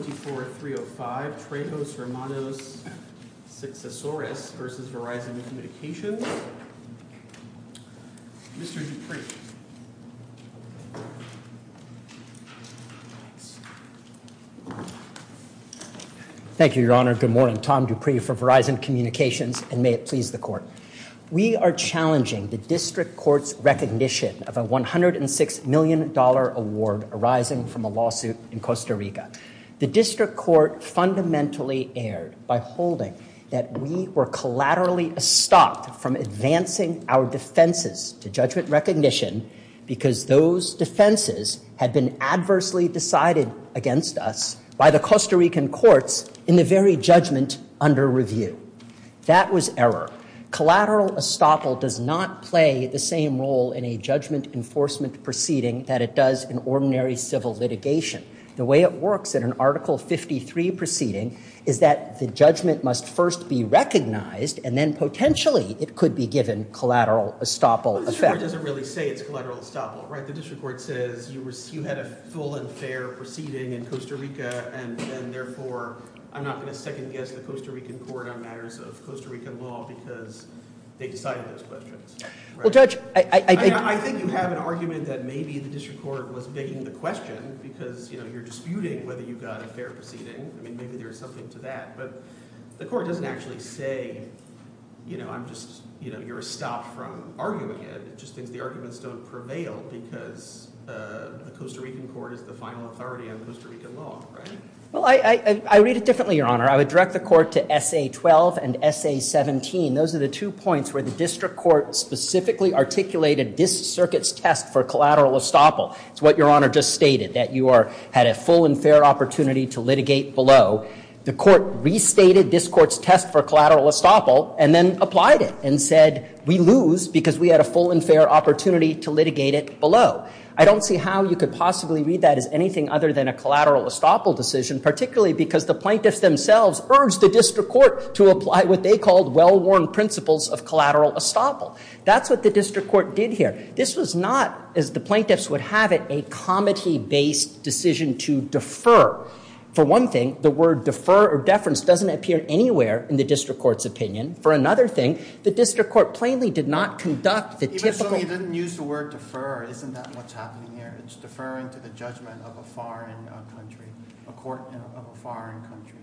24305 Trejos Hermanos Sucesores S.A. v. Verizon Communications, Mr. Dupree. Thank you, Your Honor. Good morning. Tom Dupree for Verizon Communications, and may it please the Court. We are challenging the District Court's recognition of a $106 million award arising from a lawsuit in Costa Rica. The District Court fundamentally erred by holding that we were collaterally estopped from advancing our defenses to judgment recognition because those defenses had been adversely decided against us by the Costa Rican courts in the very judgment under review. That was error. Collateral estoppel does not play the same role in a judgment enforcement proceeding that it does in ordinary civil litigation. The way it works in an Article 53 proceeding is that the judgment must first be recognized and then potentially it could be given collateral estoppel effect. The District Court doesn't really say it's collateral estoppel, right? The District Court says you had a full and fair proceeding in Costa Rica and therefore I'm not going to second guess the Costa Rican court on matters of Costa Rican law because they decided those questions. Well, Judge, I think you have an argument that maybe the District Court was begging the question because, you know, you're disputing whether you got a fair proceeding. I mean, maybe there's something to that. But the court doesn't actually say, you know, I'm just, you know, you're a stop from arguing it. It just thinks the arguments don't prevail because the Costa Rican court is the final authority on Costa Rican law, right? Well, I read it differently, Your Honor. I would direct the court to SA-12 and SA-17. Those are the two points where the District Court specifically articulated this circuit's test for collateral estoppel. It's what Your Honor just stated, that you had a full and fair opportunity to litigate below. The court restated this court's test for collateral estoppel and then applied it and said we lose because we had a full and fair opportunity to litigate it below. I don't see how you could possibly read that as anything other than a collateral estoppel decision, particularly because the plaintiffs themselves urged the District Court to apply what they called well-worn principles of collateral estoppel. That's what the District Court did here. This was not, as the plaintiffs would have it, a comity-based decision to defer. For one thing, the word defer or deference doesn't appear anywhere in the District Court's opinion. For another thing, the District Court plainly did not conduct the typical… Even so, you didn't use the word defer. Isn't that what's happening here? It's deferring to the judgment of a foreign country, a court of a foreign country.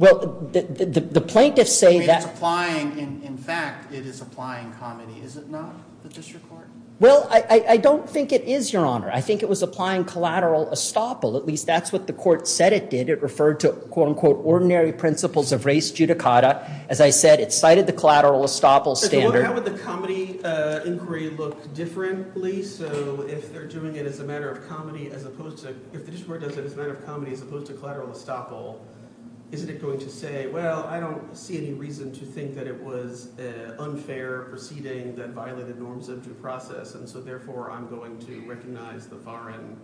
Well, the plaintiffs say that… I mean, it's applying. In fact, it is applying comity. Is it not, the District Court? Well, I don't think it is, Your Honor. I think it was applying collateral estoppel. At least that's what the court said it did. It referred to, quote-unquote, ordinary principles of race judicata. As I said, it cited the collateral estoppel standard. So how would the comity inquiry look differently? So if they're doing it as a matter of comity as opposed to… If the District Court does it as a matter of comity as opposed to collateral estoppel, isn't it going to say, well, I don't see any reason to think that it was unfair proceeding that violated norms of due process, and so therefore I'm going to recognize the foreign,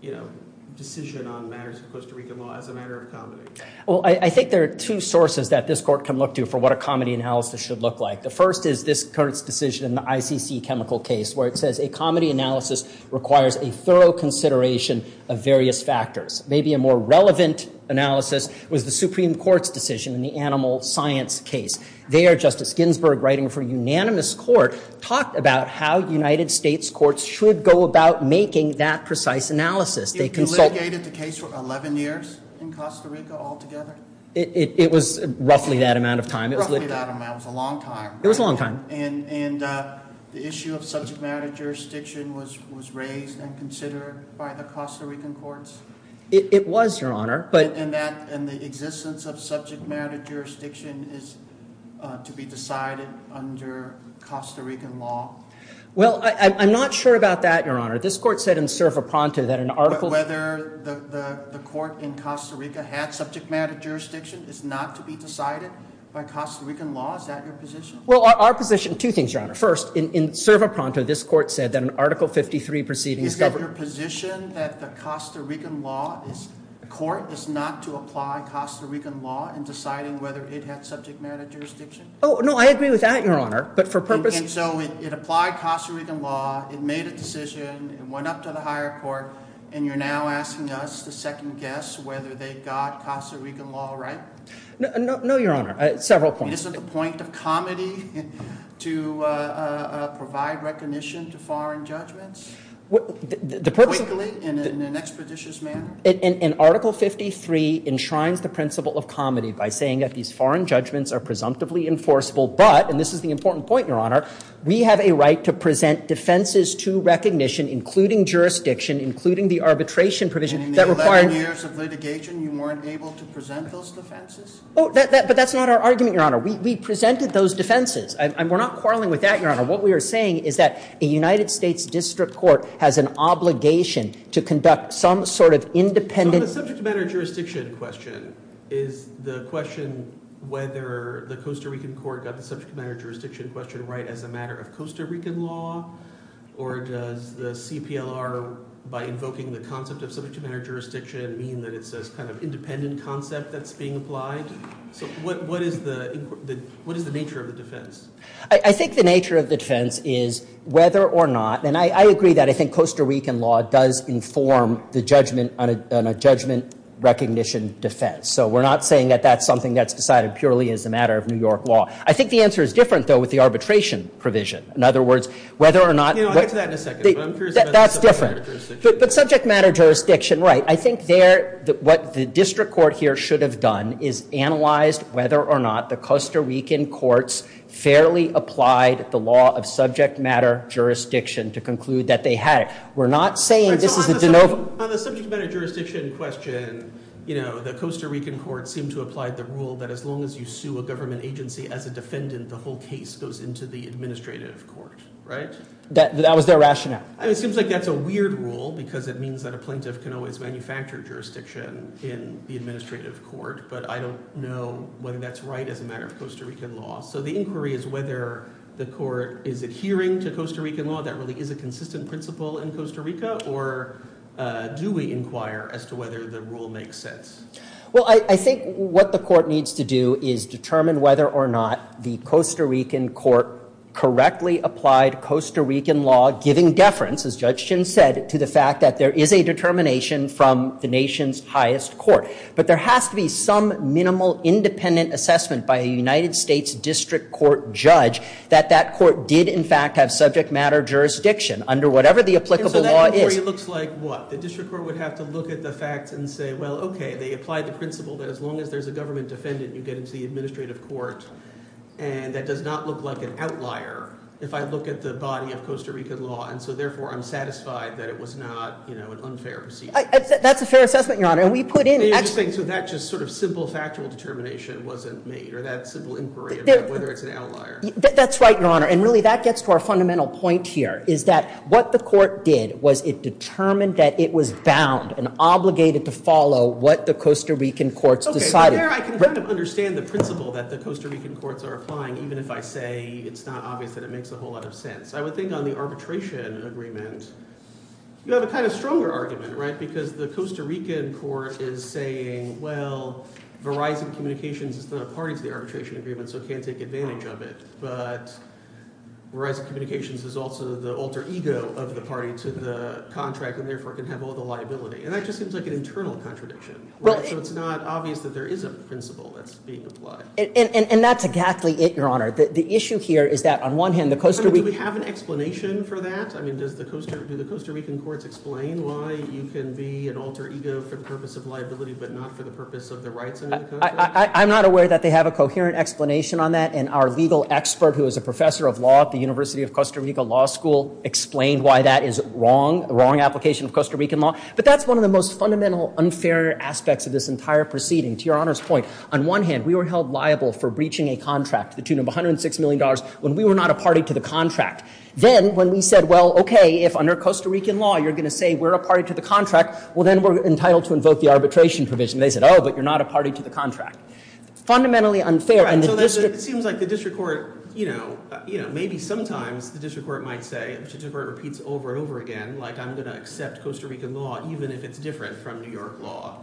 you know, decision on matters of Costa Rican law as a matter of comity? Well, I think there are two sources that this court can look to for what a comity analysis should look like. The first is this court's decision in the ICC chemical case where it says a comity analysis requires a thorough consideration of various factors. Maybe a more relevant analysis was the Supreme Court's decision in the animal science case. There, Justice Ginsburg, writing for unanimous court, talked about how United States courts should go about making that precise analysis. It litigated the case for 11 years in Costa Rica altogether? It was roughly that amount of time. Roughly that amount. It was a long time. It was a long time. And the issue of subject matter jurisdiction was raised and considered by the Costa Rican courts? It was, Your Honor. And the existence of subject matter jurisdiction is to be decided under Costa Rican law? Well, I'm not sure about that, Your Honor. This court said in Servo Pronto that an article— But whether the court in Costa Rica had subject matter jurisdiction is not to be decided by Costa Rican law? Is that your position? Well, our position—two things, Your Honor. First, in Servo Pronto, this court said that an Article 53 proceeding— So your position that the Costa Rican law is— the court is not to apply Costa Rican law in deciding whether it had subject matter jurisdiction? Oh, no, I agree with that, Your Honor, but for purpose— And so it applied Costa Rican law, it made a decision, it went up to the higher court, and you're now asking us to second guess whether they got Costa Rican law right? No, Your Honor. Several points. Isn't the point of comedy to provide recognition to foreign judgments? Quickly and in an expeditious manner? And Article 53 enshrines the principle of comedy by saying that these foreign judgments are presumptively enforceable, but—and this is the important point, Your Honor— we have a right to present defenses to recognition, including jurisdiction, including the arbitration provision that require— In the 11 years of litigation, you weren't able to present those defenses? But that's not our argument, Your Honor. We presented those defenses. We're not quarreling with that, Your Honor. What we are saying is that a United States district court has an obligation to conduct some sort of independent— So on the subject matter jurisdiction question, is the question whether the Costa Rican court got the subject matter jurisdiction question right as a matter of Costa Rican law, or does the CPLR, by invoking the concept of subject matter jurisdiction, mean that it's this kind of independent concept that's being applied? So what is the nature of the defense? I think the nature of the defense is whether or not— and I agree that I think Costa Rican law does inform the judgment on a judgment recognition defense. So we're not saying that that's something that's decided purely as a matter of New York law. I think the answer is different, though, with the arbitration provision. In other words, whether or not— You know, I'll get to that in a second, but I'm curious about the subject matter jurisdiction. That's different. But subject matter jurisdiction, right. I think there—what the district court here should have done is analyzed whether or not the Costa Rican courts fairly applied the law of subject matter jurisdiction to conclude that they had it. We're not saying this is a de novo— On the subject matter jurisdiction question, the Costa Rican courts seem to apply the rule that as long as you sue a government agency as a defendant, the whole case goes into the administrative court, right? That was their rationale. It seems like that's a weird rule, because it means that a plaintiff can always manufacture jurisdiction in the administrative court. But I don't know whether that's right as a matter of Costa Rican law. So the inquiry is whether the court is adhering to Costa Rican law, that really is a consistent principle in Costa Rica, or do we inquire as to whether the rule makes sense? Well, I think what the court needs to do is determine whether or not the Costa Rican court correctly applied Costa Rican law, giving deference, as Judge Chin said, to the fact that there is a determination from the nation's highest court. But there has to be some minimal independent assessment by a United States district court judge that that court did, in fact, have subject matter jurisdiction under whatever the applicable law is. So that inquiry looks like what? The district court would have to look at the facts and say, well, okay, they applied the principle that as long as there's a government defendant, you get into the administrative court. And that does not look like an outlier if I look at the body of Costa Rican law. And so, therefore, I'm satisfied that it was not, you know, an unfair proceeding. That's a fair assessment, Your Honor. And we put in – So that just sort of simple factual determination wasn't made or that simple inquiry about whether it's an outlier. That's right, Your Honor. And really that gets to our fundamental point here, is that what the court did was it determined that it was bound and obligated to follow what the Costa Rican courts decided. Okay, but there I can kind of understand the principle that the Costa Rican courts are applying, even if I say it's not obvious that it makes a whole lot of sense. I would think on the arbitration agreement, you have a kind of stronger argument, right, because the Costa Rican court is saying, well, Verizon Communications is not a party to the arbitration agreement so it can't take advantage of it. But Verizon Communications is also the alter ego of the party to the contract and, therefore, can have all the liability. And that just seems like an internal contradiction. So it's not obvious that there is a principle that's being applied. And that's exactly it, Your Honor. The issue here is that, on one hand, the Costa – Do we have an explanation for that? I mean, does the Costa – Do the Costa Rican courts explain why you can be an alter ego for the purpose of liability but not for the purpose of the rights under the contract? I'm not aware that they have a coherent explanation on that, and our legal expert who is a professor of law at the University of Costa Rica Law School explained why that is wrong, the wrong application of Costa Rican law. But that's one of the most fundamental unfair aspects of this entire proceeding. To Your Honor's point, on one hand, we were held liable for breaching a contract, the tune of $106 million, when we were not a party to the contract. Then, when we said, well, okay, if under Costa Rican law you're going to say we're a party to the contract, well, then we're entitled to invoke the arbitration provision. They said, oh, but you're not a party to the contract. Fundamentally unfair, and the district – Right, so it seems like the district court – you know, maybe sometimes the district court might say – the district court repeats over and over again, like I'm going to accept Costa Rican law even if it's different from New York law.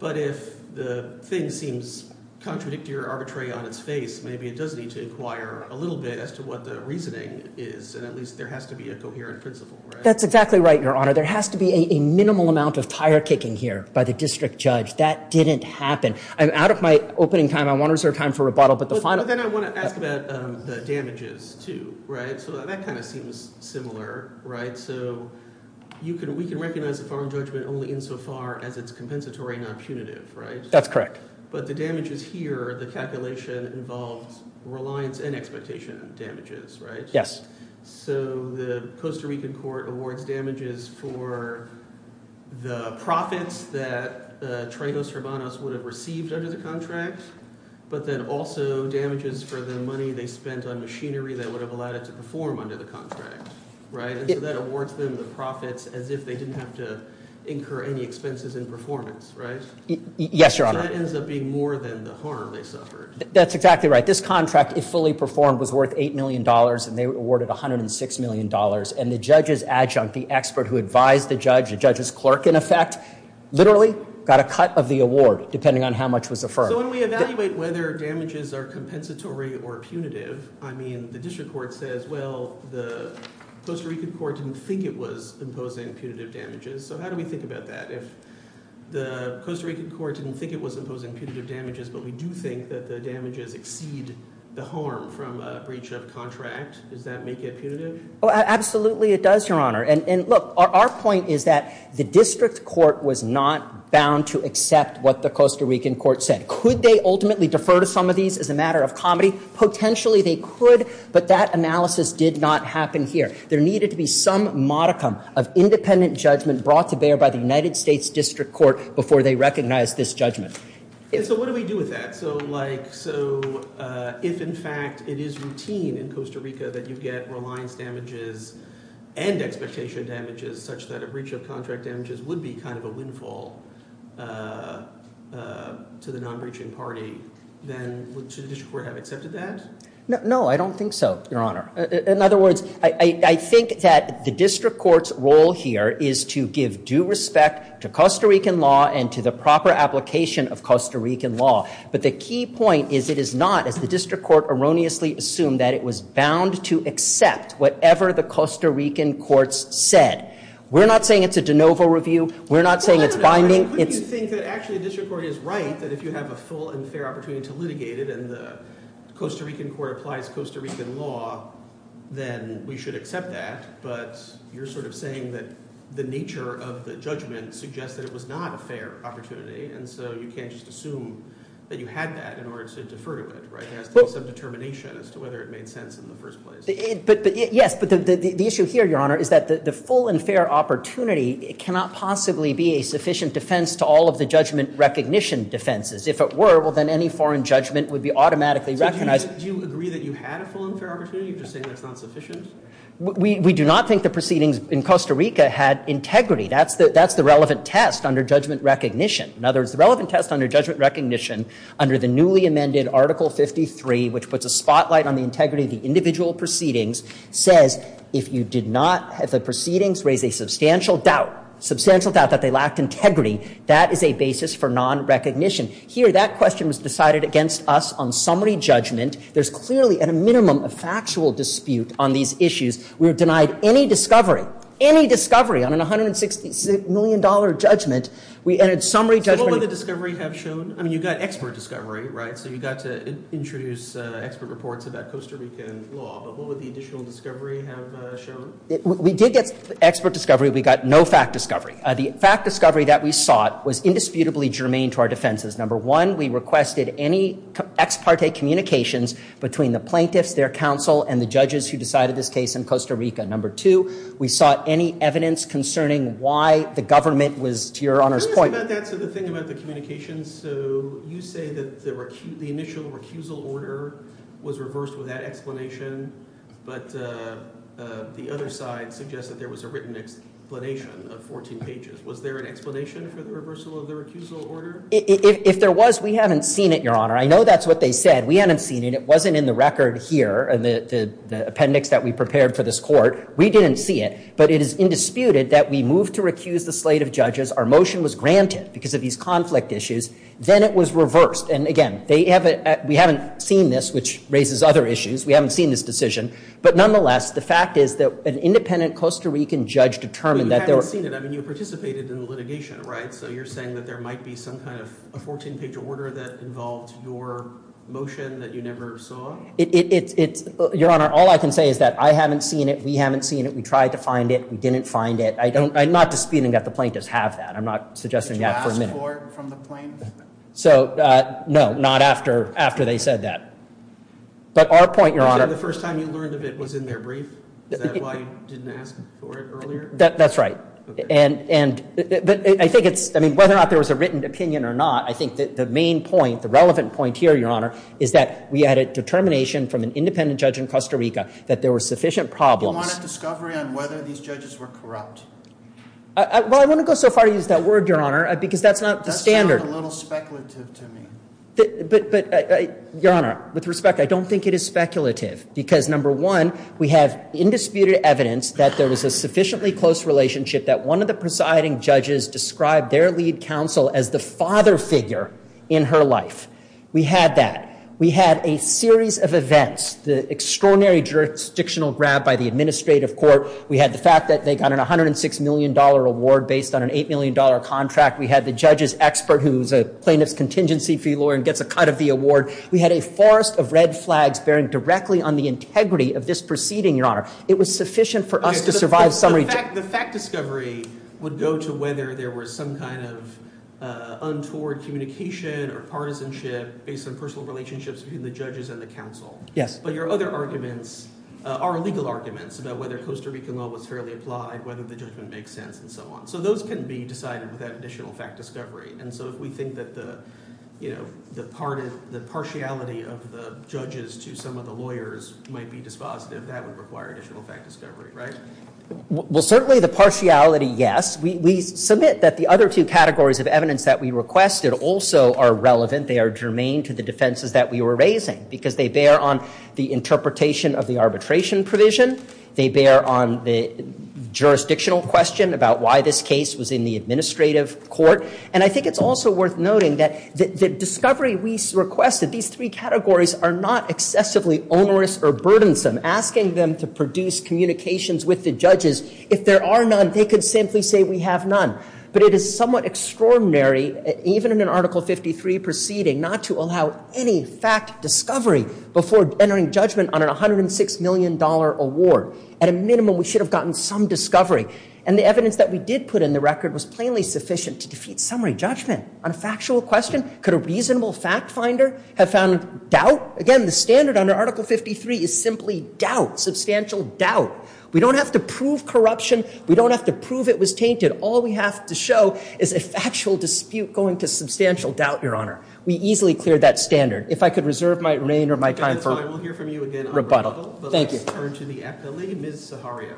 But if the thing seems contradictory or arbitrary on its face, maybe it does need to inquire a little bit as to what the reasoning is, and at least there has to be a coherent principle, right? That's exactly right, Your Honor. There has to be a minimal amount of tire-kicking here by the district judge. That didn't happen. I'm out of my opening time. I want to reserve time for rebuttal, but the final – But then I want to ask about the damages too, right? So that kind of seems similar, right? So you can – we can recognize a foreign judgment only insofar as it's compensatory, not punitive, right? That's correct. But the damages here, the calculation involves reliance and expectation damages, right? So the Costa Rican court awards damages for the profits that Tregos Hermanos would have received under the contract, but then also damages for the money they spent on machinery that would have allowed it to perform under the contract, right? And so that awards them the profits as if they didn't have to incur any expenses in performance, right? Yes, Your Honor. So that ends up being more than the harm they suffered. That's exactly right. This contract, if fully performed, was worth $8 million, and they were awarded $106 million. And the judge's adjunct, the expert who advised the judge, the judge's clerk in effect, literally got a cut of the award depending on how much was affirmed. So when we evaluate whether damages are compensatory or punitive, I mean, the district court says, well, the Costa Rican court didn't think it was imposing punitive damages. So how do we think about that? If the Costa Rican court didn't think it was imposing punitive damages, but we do think that the damages exceed the harm from a breach of contract, does that make it punitive? Oh, absolutely it does, Your Honor. And look, our point is that the district court was not bound to accept what the Costa Rican court said. Could they ultimately defer to some of these as a matter of comedy? Potentially they could, but that analysis did not happen here. There needed to be some modicum of independent judgment brought to bear by the United States District Court before they recognized this judgment. So what do we do with that? So if in fact it is routine in Costa Rica that you get reliance damages and expectation damages such that a breach of contract damages would be kind of a windfall to the non-breaching party, then should the district court have accepted that? No, I don't think so, Your Honor. In other words, I think that the district court's role here is to give due respect to Costa Rican law and to the proper application of Costa Rican law. But the key point is it is not, as the district court erroneously assumed, that it was bound to accept whatever the Costa Rican courts said. We're not saying it's a de novo review. We're not saying it's binding. Couldn't you think that actually the district court is right that if you have a full and fair opportunity to litigate it and the Costa Rican court applies Costa Rican law, then we should accept that? But you're sort of saying that the nature of the judgment suggests that it was not a fair opportunity, and so you can't just assume that you had that in order to defer to it, right? There has to be some determination as to whether it made sense in the first place. Yes, but the issue here, Your Honor, is that the full and fair opportunity cannot possibly be a sufficient defense to all of the judgment recognition defenses. If it were, well, then any foreign judgment would be automatically recognized. So do you agree that you had a full and fair opportunity or are you just saying that it's not sufficient? We do not think the proceedings in Costa Rica had integrity. That's the relevant test under judgment recognition. In other words, the relevant test under judgment recognition, under the newly amended Article 53, which puts a spotlight on the integrity of the individual proceedings, says if you did not have the proceedings raise a substantial doubt, substantial doubt that they lacked integrity, that is a basis for non-recognition. Here, that question was decided against us on summary judgment. There's clearly, at a minimum, a factual dispute on these issues. We were denied any discovery, any discovery on a $166 million judgment. So what would the discovery have shown? I mean, you got expert discovery, right? So you got to introduce expert reports about Costa Rican law, but what would the additional discovery have shown? We did get expert discovery. We got no fact discovery. The fact discovery that we sought was indisputably germane to our defenses. Number one, we requested any ex parte communications between the plaintiffs, their counsel, and the judges who decided this case in Costa Rica. Number two, we sought any evidence concerning why the government was, to Your Honor's point. I'm curious about that. So the thing about the communications, so you say that the initial recusal order was reversed with that explanation, but the other side suggests that there was a written explanation of 14 pages. Was there an explanation for the reversal of the recusal order? If there was, we haven't seen it, Your Honor. I know that's what they said. We haven't seen it. It wasn't in the record here, the appendix that we prepared for this court. We didn't see it. But it is indisputed that we moved to recuse the slate of judges. Our motion was granted because of these conflict issues. Then it was reversed. And, again, we haven't seen this, which raises other issues. We haven't seen this decision. But, nonetheless, the fact is that an independent Costa Rican judge determined that there were Well, you haven't seen it. I mean, you participated in the litigation, right? So you're saying that there might be some kind of a 14-page order that involved your motion that you never saw? Your Honor, all I can say is that I haven't seen it. We haven't seen it. We tried to find it. We didn't find it. I'm not disputing that the plaintiffs have that. I'm not suggesting that for a minute. Did you ask for it from the plaintiffs? So, no, not after they said that. But our point, Your Honor Is that the first time you learned of it was in their brief? Is that why you didn't ask for it earlier? That's right. But I think it's, I mean, whether or not there was a written opinion or not, I think the main point, the relevant point here, Your Honor, is that we had a determination from an independent judge in Costa Rica that there were sufficient problems Do you want a discovery on whether these judges were corrupt? Well, I wouldn't go so far as to use that word, Your Honor, because that's not the standard. That sounds a little speculative to me. But, Your Honor, with respect, I don't think it is speculative. Because, number one, we have indisputed evidence that there was a sufficiently close relationship that one of the presiding judges described their lead counsel as the father figure in her life. We had that. We had a series of events, the extraordinary jurisdictional grab by the administrative court. We had the fact that they got an $106 million award based on an $8 million contract. We had the judge's expert, who's a plaintiff's contingency fee lawyer and gets a cut of the award. We had a forest of red flags bearing directly on the integrity of this proceeding, Your Honor. It was sufficient for us to survive summary judgment. The fact discovery would go to whether there was some kind of untoward communication or partisanship based on personal relationships between the judges and the counsel. Yes. But your other arguments are legal arguments about whether Costa Rican law was fairly applied, whether the judgment makes sense, and so on. So those can be decided without additional fact discovery. And so if we think that the partiality of the judges to some of the lawyers might be dispositive, that would require additional fact discovery, right? Well, certainly the partiality, yes. We submit that the other two categories of evidence that we requested also are relevant. They are germane to the defenses that we were raising because they bear on the interpretation of the arbitration provision. They bear on the jurisdictional question about why this case was in the administrative court. And I think it's also worth noting that the discovery we requested, these three categories, are not excessively onerous or burdensome. Asking them to produce communications with the judges, if there are none, they could simply say we have none. But it is somewhat extraordinary, even in an Article 53 proceeding, not to allow any fact discovery before entering judgment on a $106 million award. At a minimum, we should have gotten some discovery. And the evidence that we did put in the record was plainly sufficient to defeat summary judgment on a factual question. Could a reasonable fact finder have found doubt? Again, the standard under Article 53 is simply doubt, substantial doubt. We don't have to prove corruption. We don't have to prove it was tainted. All we have to show is a factual dispute going to substantial doubt, Your Honor. We easily cleared that standard. If I could reserve my reign or my time for rebuttal. Thank you. Let's turn to the appellee, Ms. Zaharia.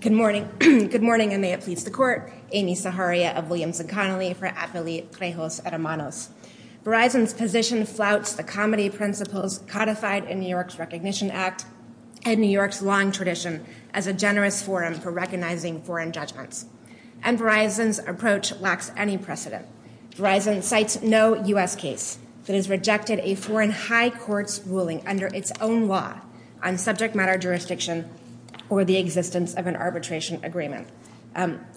Good morning. Good morning, and may it please the Court. Amy Zaharia of Williams & Connolly for Appellee Trejos Hermanos. Verizon's position flouts the comedy principles codified in New York's Recognition Act and New York's long tradition as a generous forum for recognizing foreign judgments. And Verizon's approach lacks any precedent. Verizon cites no U.S. case that has rejected a foreign high court's ruling under its own law on subject matter jurisdiction or the existence of an arbitration agreement.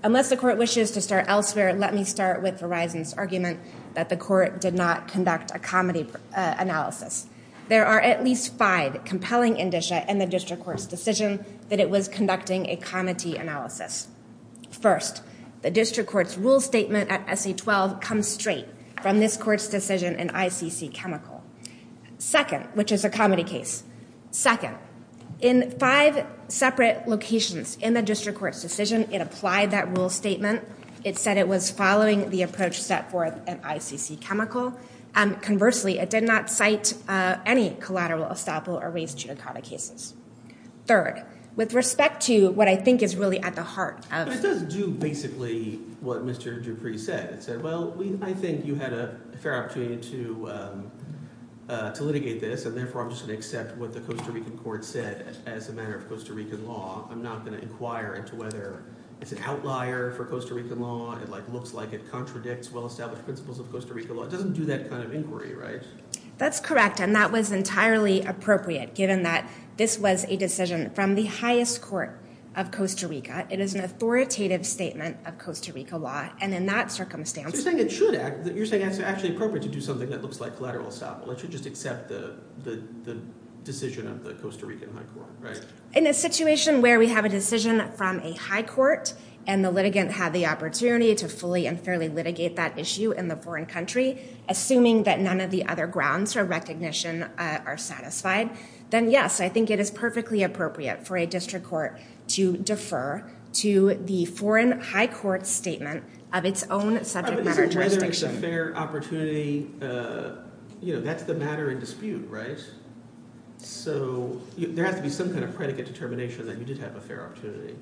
Unless the Court wishes to start elsewhere, let me start with Verizon's argument that the Court did not conduct a comedy analysis. There are at least five compelling indicia in the district court's decision that it was conducting a comedy analysis. First, the district court's rule statement at SC-12 comes straight from this court's decision in ICC Chemical. Second, which is a comedy case. Second, in five separate locations in the district court's decision, it applied that rule statement. It said it was following the approach set forth in ICC Chemical. Conversely, it did not cite any collateral estoppel or race judicata cases. Third, with respect to what I think is really at the heart of- It does do basically what Mr. Dupree said. It said, well, I think you had a fair opportunity to litigate this, and therefore I'm just going to accept what the Costa Rican court said as a matter of Costa Rican law. I'm not going to inquire into whether it's an outlier for Costa Rican law. It looks like it contradicts well-established principles of Costa Rican law. It doesn't do that kind of inquiry, right? That's correct, and that was entirely appropriate given that this was a decision from the highest court of Costa Rica. It is an authoritative statement of Costa Rica law, and in that circumstance- You're saying it's actually appropriate to do something that looks like collateral estoppel. It should just accept the decision of the Costa Rican high court, right? In a situation where we have a decision from a high court, and the litigant had the opportunity to fully and fairly litigate that issue in the foreign country, assuming that none of the other grounds for recognition are satisfied, then yes, I think it is perfectly appropriate for a district court to defer to the foreign high court statement of its own subject matter jurisdiction. So whether it's a fair opportunity, that's the matter in dispute, right? So there has to be some kind of predicate determination that you did have a fair opportunity.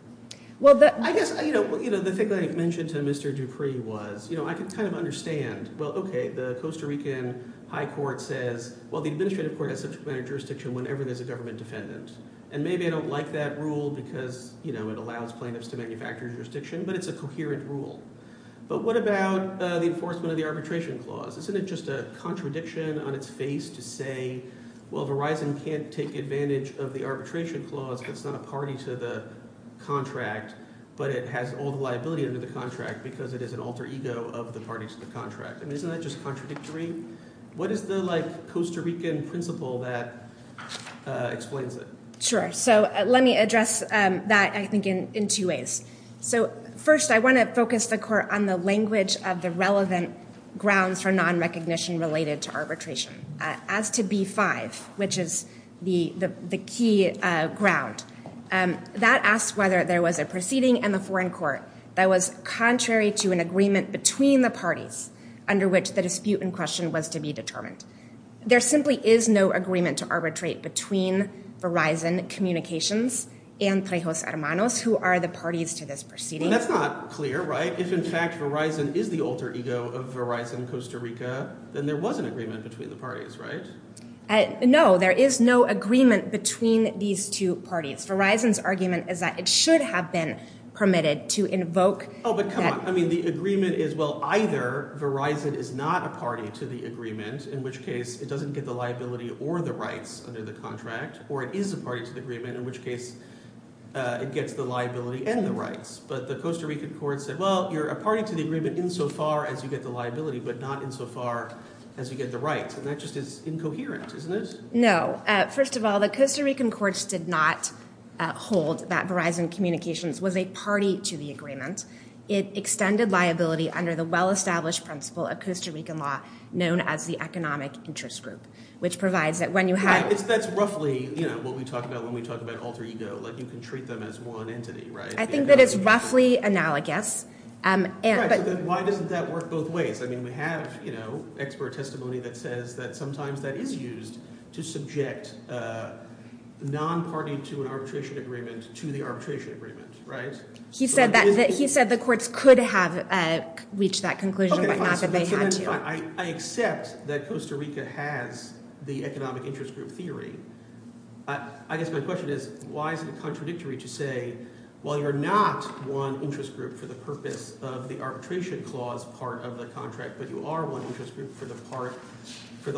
I guess the thing that I mentioned to Mr. Dupree was I can kind of understand. Well, okay, the Costa Rican high court says, well, the administrative court has subject matter jurisdiction whenever there's a government defendant, and maybe I don't like that rule because it allows plaintiffs to manufacture jurisdiction, but it's a coherent rule. But what about the enforcement of the arbitration clause? Isn't it just a contradiction on its face to say, well, Verizon can't take advantage of the arbitration clause. It's not a party to the contract, but it has all the liability under the contract because it is an alter ego of the parties to the contract. I mean, isn't that just contradictory? What is the, like, Costa Rican principle that explains it? Sure. So let me address that, I think, in two ways. So first, I want to focus the court on the language of the relevant grounds for nonrecognition related to arbitration. As to B-5, which is the key ground, that asks whether there was a proceeding in the foreign court that was contrary to an agreement between the parties under which the dispute in question was to be determined. There simply is no agreement to arbitrate between Verizon Communications and Trejos Hermanos, who are the parties to this proceeding. Well, that's not clear, right? If, in fact, Verizon is the alter ego of Verizon Costa Rica, then there was an agreement between the parties, right? No, there is no agreement between these two parties. Verizon's argument is that it should have been permitted to invoke. Oh, but come on. I mean, the agreement is, well, either Verizon is not a party to the agreement, in which case it doesn't get the liability or the rights under the contract, or it is a party to the agreement, in which case it gets the liability and the rights. But the Costa Rican court said, well, you're a party to the agreement insofar as you get the liability, but not insofar as you get the rights. And that just is incoherent, isn't it? No. First of all, the Costa Rican courts did not hold that Verizon Communications was a party to the agreement. It extended liability under the well-established principle of Costa Rican law known as the economic interest group, which provides that when you have – That's roughly what we talk about when we talk about alter ego, like you can treat them as one entity, right? I think that it's roughly analogous. Right. So then why doesn't that work both ways? I mean, we have expert testimony that says that sometimes that is used to subject a non-party to an arbitration agreement to the arbitration agreement, right? He said the courts could have reached that conclusion, but not that they had to. I accept that Costa Rica has the economic interest group theory. I guess my question is why is it contradictory to say, well, you're not one interest group for the purpose of the arbitration clause part of the contract, but you are one interest group for the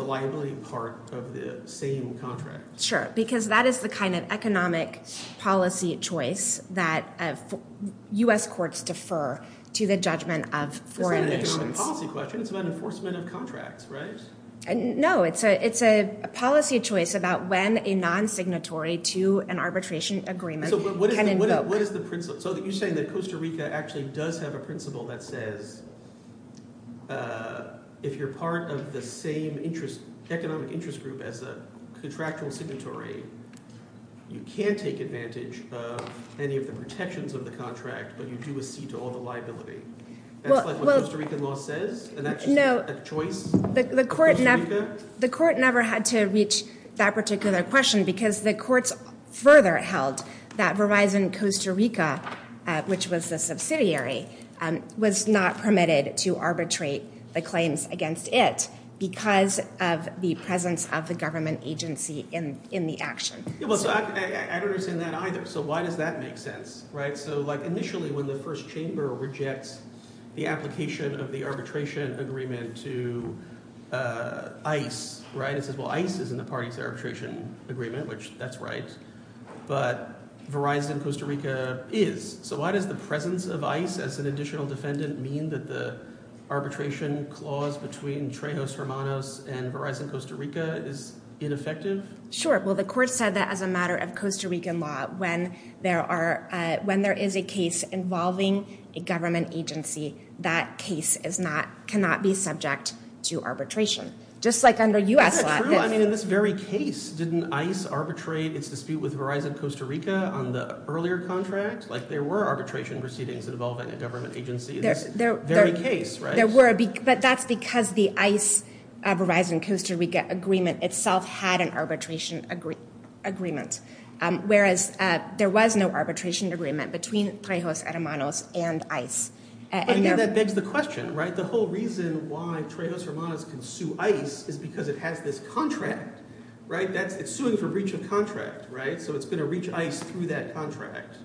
liability part of the same contract? Sure, because that is the kind of economic policy choice that U.S. courts defer to the judgment of foreign nations. It's not an economic policy question. It's about enforcement of contracts, right? No, it's a policy choice about when a non-signatory to an arbitration agreement can invoke. So you're saying that Costa Rica actually does have a principle that says if you're part of the same economic interest group as a contractual signatory, you can take advantage of any of the protections of the contract, but you do accede to all the liability. That's like what Costa Rican law says? No. And that's just a choice of Costa Rica? The court never had to reach that particular question because the courts further held that Verizon Costa Rica, which was the subsidiary, was not permitted to arbitrate the claims against it because of the presence of the government agency in the action. I don't understand that either. So why does that make sense? So initially when the first chamber rejects the application of the arbitration agreement to ICE, it says, well, ICE is in the parties arbitration agreement, which that's right, but Verizon Costa Rica is. So why does the presence of ICE as an additional defendant mean that the arbitration clause between Trejos Hermanos and Verizon Costa Rica is ineffective? Sure. Well, the court said that as a matter of Costa Rican law, when there is a case involving a government agency, that case cannot be subject to arbitration, just like under U.S. law. That's not true. I mean, in this very case, didn't ICE arbitrate its dispute with Verizon Costa Rica on the earlier contract? Like there were arbitration proceedings involving a government agency in this very case, right? But that's because the ICE-Verizon Costa Rica agreement itself had an arbitration agreement, whereas there was no arbitration agreement between Trejos Hermanos and ICE. That begs the question, right? The whole reason why Trejos Hermanos can sue ICE is because it has this contract, right? It's suing for breach of contract, right? So it's going to reach ICE through that contract.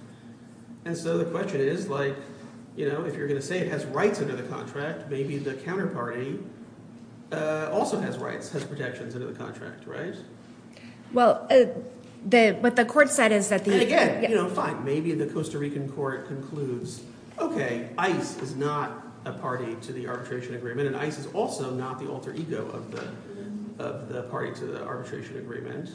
And so the question is like if you're going to say it has rights under the contract, maybe the counterparty also has rights, has protections under the contract, right? Well, what the court said is that the – Maybe the Costa Rican court concludes, okay, ICE is not a party to the arbitration agreement and ICE is also not the alter ego of the party to the arbitration agreement.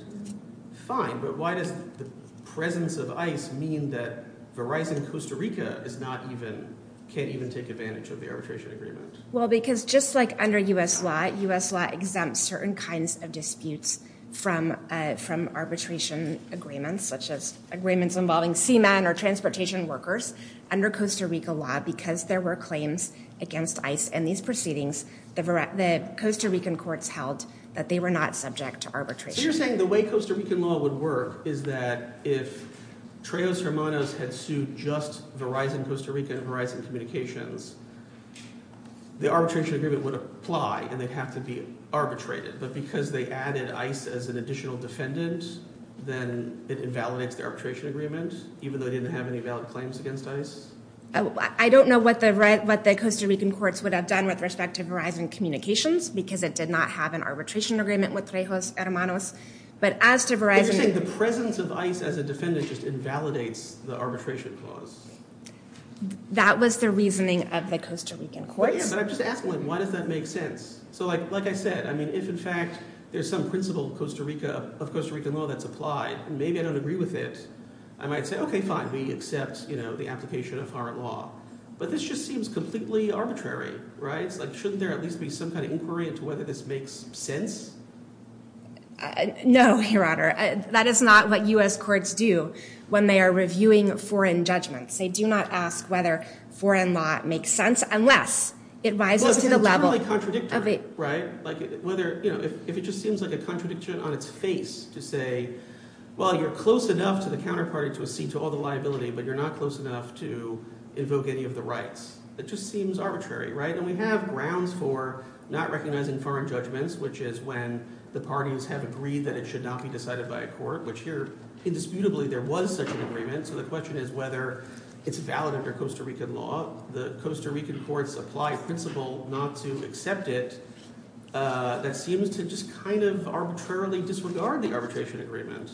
Fine, but why does the presence of ICE mean that Verizon Costa Rica is not even – can't even take advantage of the arbitration agreement? Well, because just like under U.S. law, U.S. law exempts certain kinds of disputes from arbitration agreements such as agreements involving seamen or transportation workers. Under Costa Rica law, because there were claims against ICE and these proceedings, the Costa Rican courts held that they were not subject to arbitration. So you're saying the way Costa Rican law would work is that if Trejos Hermanos had sued just Verizon Costa Rica and Verizon Communications, the arbitration agreement would apply and they'd have to be arbitrated. But because they added ICE as an additional defendant, then it invalidates the arbitration agreement even though it didn't have any valid claims against ICE? I don't know what the Costa Rican courts would have done with respect to Verizon Communications because it did not have an arbitration agreement with Trejos Hermanos. But as to Verizon – You're saying the presence of ICE as a defendant just invalidates the arbitration clause? That was the reasoning of the Costa Rican courts. But I'm just asking, why does that make sense? So like I said, if in fact there's some principle of Costa Rican law that's applied and maybe I don't agree with it, I might say, okay, fine, we accept the application of foreign law. But this just seems completely arbitrary, right? Shouldn't there at least be some kind of inquiry into whether this makes sense? No, Your Honor. That is not what U.S. courts do when they are reviewing foreign judgments. They do not ask whether foreign law makes sense unless it rises to the level – Well, it's completely contradictory, right? Like whether – if it just seems like a contradiction on its face to say, well, you're close enough to the counterparty to accede to all the liability, but you're not close enough to invoke any of the rights. It just seems arbitrary, right? And we have grounds for not recognizing foreign judgments, which is when the parties have agreed that it should not be decided by a court, which here indisputably there was such an agreement. So the question is whether it's valid under Costa Rican law. The Costa Rican courts apply a principle not to accept it that seems to just kind of arbitrarily disregard the arbitration agreement.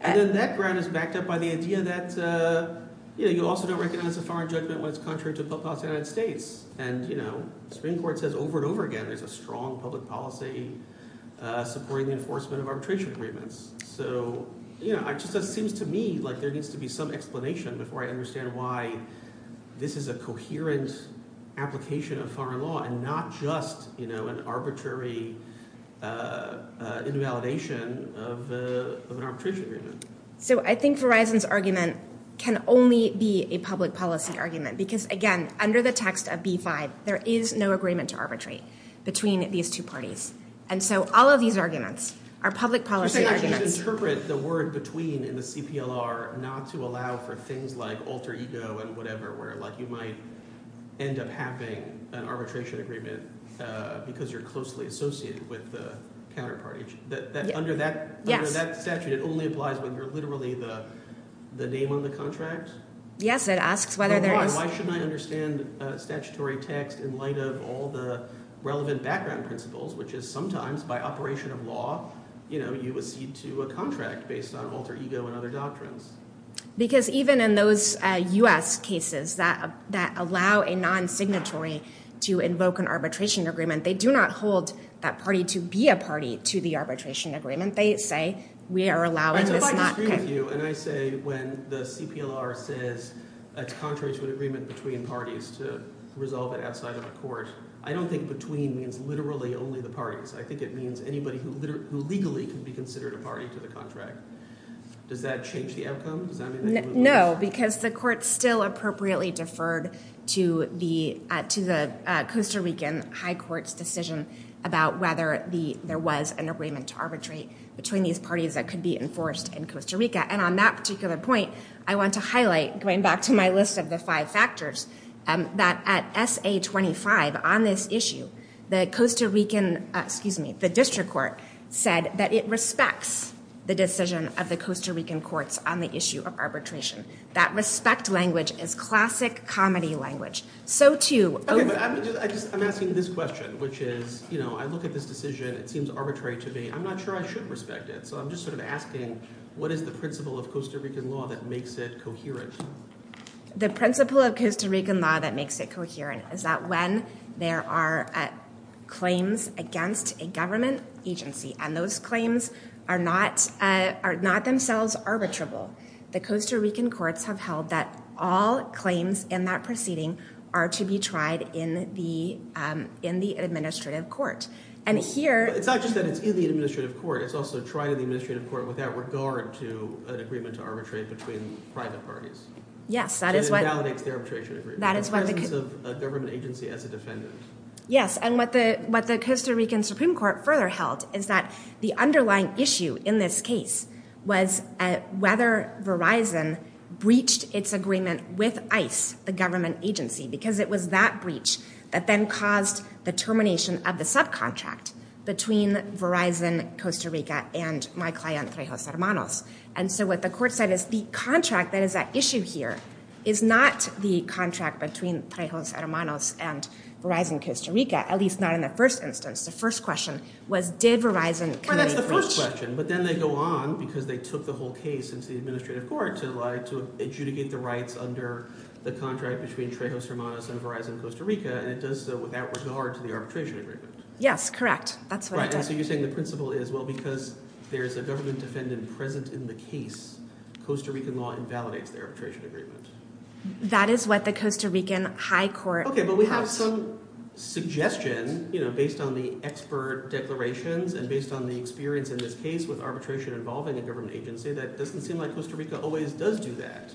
And then that ground is backed up by the idea that you also don't recognize a foreign judgment when it's contrary to public policy of the United States. And the Supreme Court says over and over again there's a strong public policy supporting the enforcement of arbitration agreements. So it just seems to me like there needs to be some explanation before I understand why this is a coherent application of foreign law and not just an arbitrary invalidation of an arbitration agreement. So I think Verizon's argument can only be a public policy argument because, again, under the text of B5, there is no agreement to arbitrate between these two parties. And so all of these arguments are public policy arguments. So you're saying you should interpret the word between in the CPLR not to allow for things like alter ego and whatever where, like, you might end up having an arbitration agreement because you're closely associated with the counterparty? Yes. Under that statute, it only applies when you're literally the name on the contract? Yes, it asks whether there is. Why shouldn't I understand statutory text in light of all the relevant background principles, which is sometimes by operation of law you accede to a contract based on alter ego and other doctrines? Because even in those U.S. cases that allow a non-signatory to invoke an arbitration agreement, they do not hold that party to be a party to the arbitration agreement. And so if I disagree with you and I say when the CPLR says it's contrary to an agreement between parties to resolve it outside of the court, I don't think between means literally only the parties. I think it means anybody who legally can be considered a party to the contract. Does that change the outcome? No, because the court still appropriately deferred to the Costa Rican High Court's decision about whether there was an agreement to arbitrate between these parties that could be enforced in Costa Rica. And on that particular point, I want to highlight, going back to my list of the five factors, that at SA-25 on this issue, the Costa Rican – excuse me, the district court said that it respects the decision of the Costa Rican courts on the issue of arbitration. That respect language is classic comedy language. So too – I'm asking this question, which is I look at this decision. It seems arbitrary to me. I'm not sure I should respect it. So I'm just sort of asking what is the principle of Costa Rican law that makes it coherent? The principle of Costa Rican law that makes it coherent is that when there are claims against a government agency and those claims are not themselves arbitrable, the Costa Rican courts have held that all claims in that proceeding are to be tried in the administrative court. And here – It's not just that it's in the administrative court. It's also tried in the administrative court without regard to an agreement to arbitrate between private parties. Yes, that is what – So it invalidates their arbitration agreement. That is what the – In the presence of a government agency as a defendant. Because it was that breach that then caused the termination of the subcontract between Verizon Costa Rica and my client, Trejos Hermanos. And so what the court said is the contract that is at issue here is not the contract between Trejos Hermanos and Verizon Costa Rica, at least not in the first instance. The first question was did Verizon commit a breach? But then they go on because they took the whole case into the administrative court to adjudicate the rights under the contract between Trejos Hermanos and Verizon Costa Rica, and it does so without regard to the arbitration agreement. Yes, correct. That's what it does. Right, and so you're saying the principle is, well, because there's a government defendant present in the case, Costa Rican law invalidates the arbitration agreement. That is what the Costa Rican high court – Okay, but we have some suggestion based on the expert declarations and based on the experience in this case with arbitration involving a government agency that it doesn't seem like Costa Rica always does do that.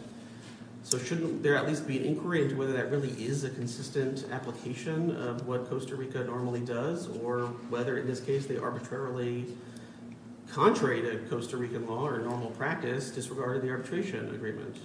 So shouldn't there at least be an inquiry into whether that really is a consistent application of what Costa Rica normally does or whether in this case they arbitrarily, contrary to Costa Rican law or normal practice, disregarded the arbitration agreement?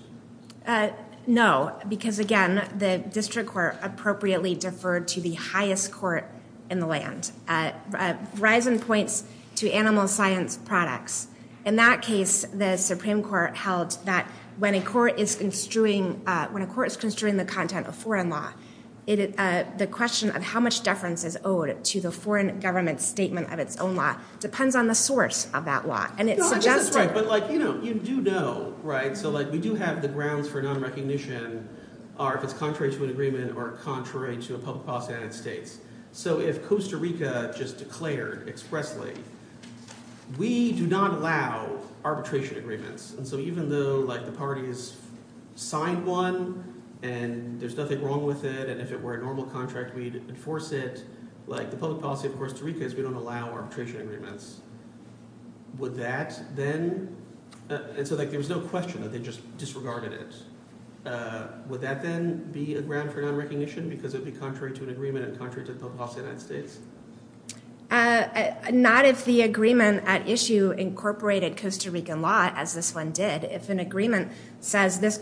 No, because again, the district court appropriately deferred to the highest court in the land. Verizon points to animal science products. In that case, the Supreme Court held that when a court is construing the content of foreign law, the question of how much deference is owed to the foreign government statement of its own law depends on the source of that law. No, I guess that's right, but you do know, right? So we do have the grounds for nonrecognition if it's contrary to an agreement or contrary to a public policy United States. So if Costa Rica just declared expressly, we do not allow arbitration agreements. And so even though the party has signed one and there's nothing wrong with it and if it were a normal contract, we'd enforce it, the public policy of Costa Rica is we don't allow arbitration agreements. Would that then – and so there was no question that they just disregarded it. Would that then be a ground for nonrecognition because it would be contrary to an agreement and contrary to the public policy of the United States? Not if the agreement at issue incorporated Costa Rican law as this one did. If an agreement says this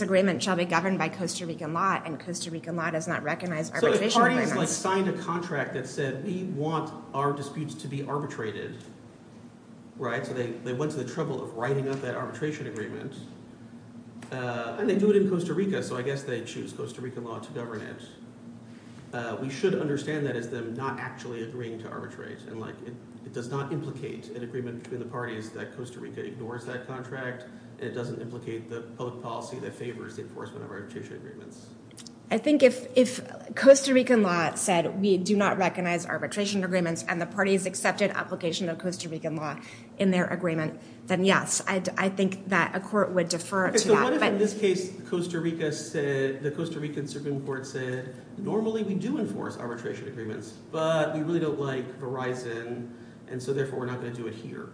agreement shall be governed by Costa Rican law and Costa Rican law does not recognize arbitration agreements. So if parties signed a contract that said we want our disputes to be arbitrated, so they went to the trouble of writing up that arbitration agreement and they do it in Costa Rica, so I guess they choose Costa Rican law to govern it. We should understand that as them not actually agreeing to arbitrate and like it does not implicate an agreement between the parties that Costa Rica ignores that contract. It doesn't implicate the public policy that favors the enforcement of arbitration agreements. I think if Costa Rican law said we do not recognize arbitration agreements and the parties accepted application of Costa Rican law in their agreement, then yes, I think that a court would defer to that. What if in this case Costa Rica said, the Costa Rican Supreme Court said normally we do enforce arbitration agreements but we really don't like Verizon and so therefore we're not going to do it here?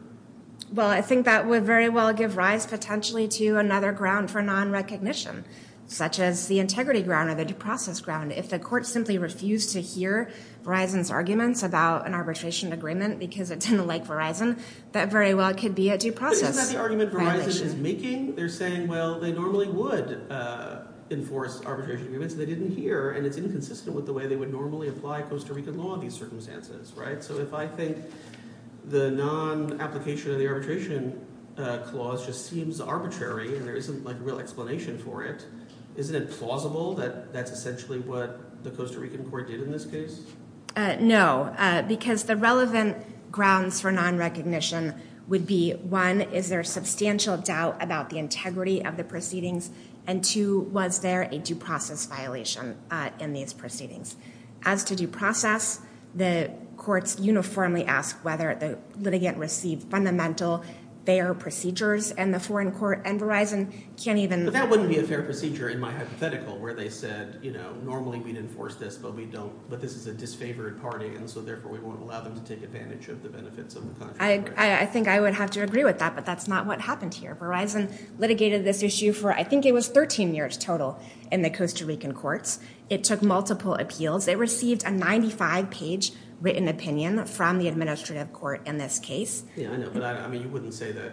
Well I think that would very well give rise potentially to another ground for nonrecognition such as the integrity ground or the due process ground. If the court simply refused to hear Verizon's arguments about an arbitration agreement because it didn't like Verizon, that very well could be a due process. But isn't that the argument Verizon is making? They're saying well they normally would enforce arbitration agreements and they didn't hear and it's inconsistent with the way they would normally apply Costa Rican law in these circumstances, right? So if I think the non-application of the arbitration clause just seems arbitrary and there isn't like real explanation for it, isn't it plausible that that's essentially what the Costa Rican court did in this case? No, because the relevant grounds for nonrecognition would be one, is there substantial doubt about the integrity of the proceedings and two, was there a due process violation in these proceedings? As to due process, the courts uniformly ask whether the litigant received fundamental fair procedures and the foreign court and Verizon can't even – and so therefore we won't allow them to take advantage of the benefits of the contract, right? I think I would have to agree with that but that's not what happened here. Verizon litigated this issue for I think it was 13 years total in the Costa Rican courts. It took multiple appeals. It received a 95-page written opinion from the administrative court in this case. Yeah, I know, but I mean you wouldn't say that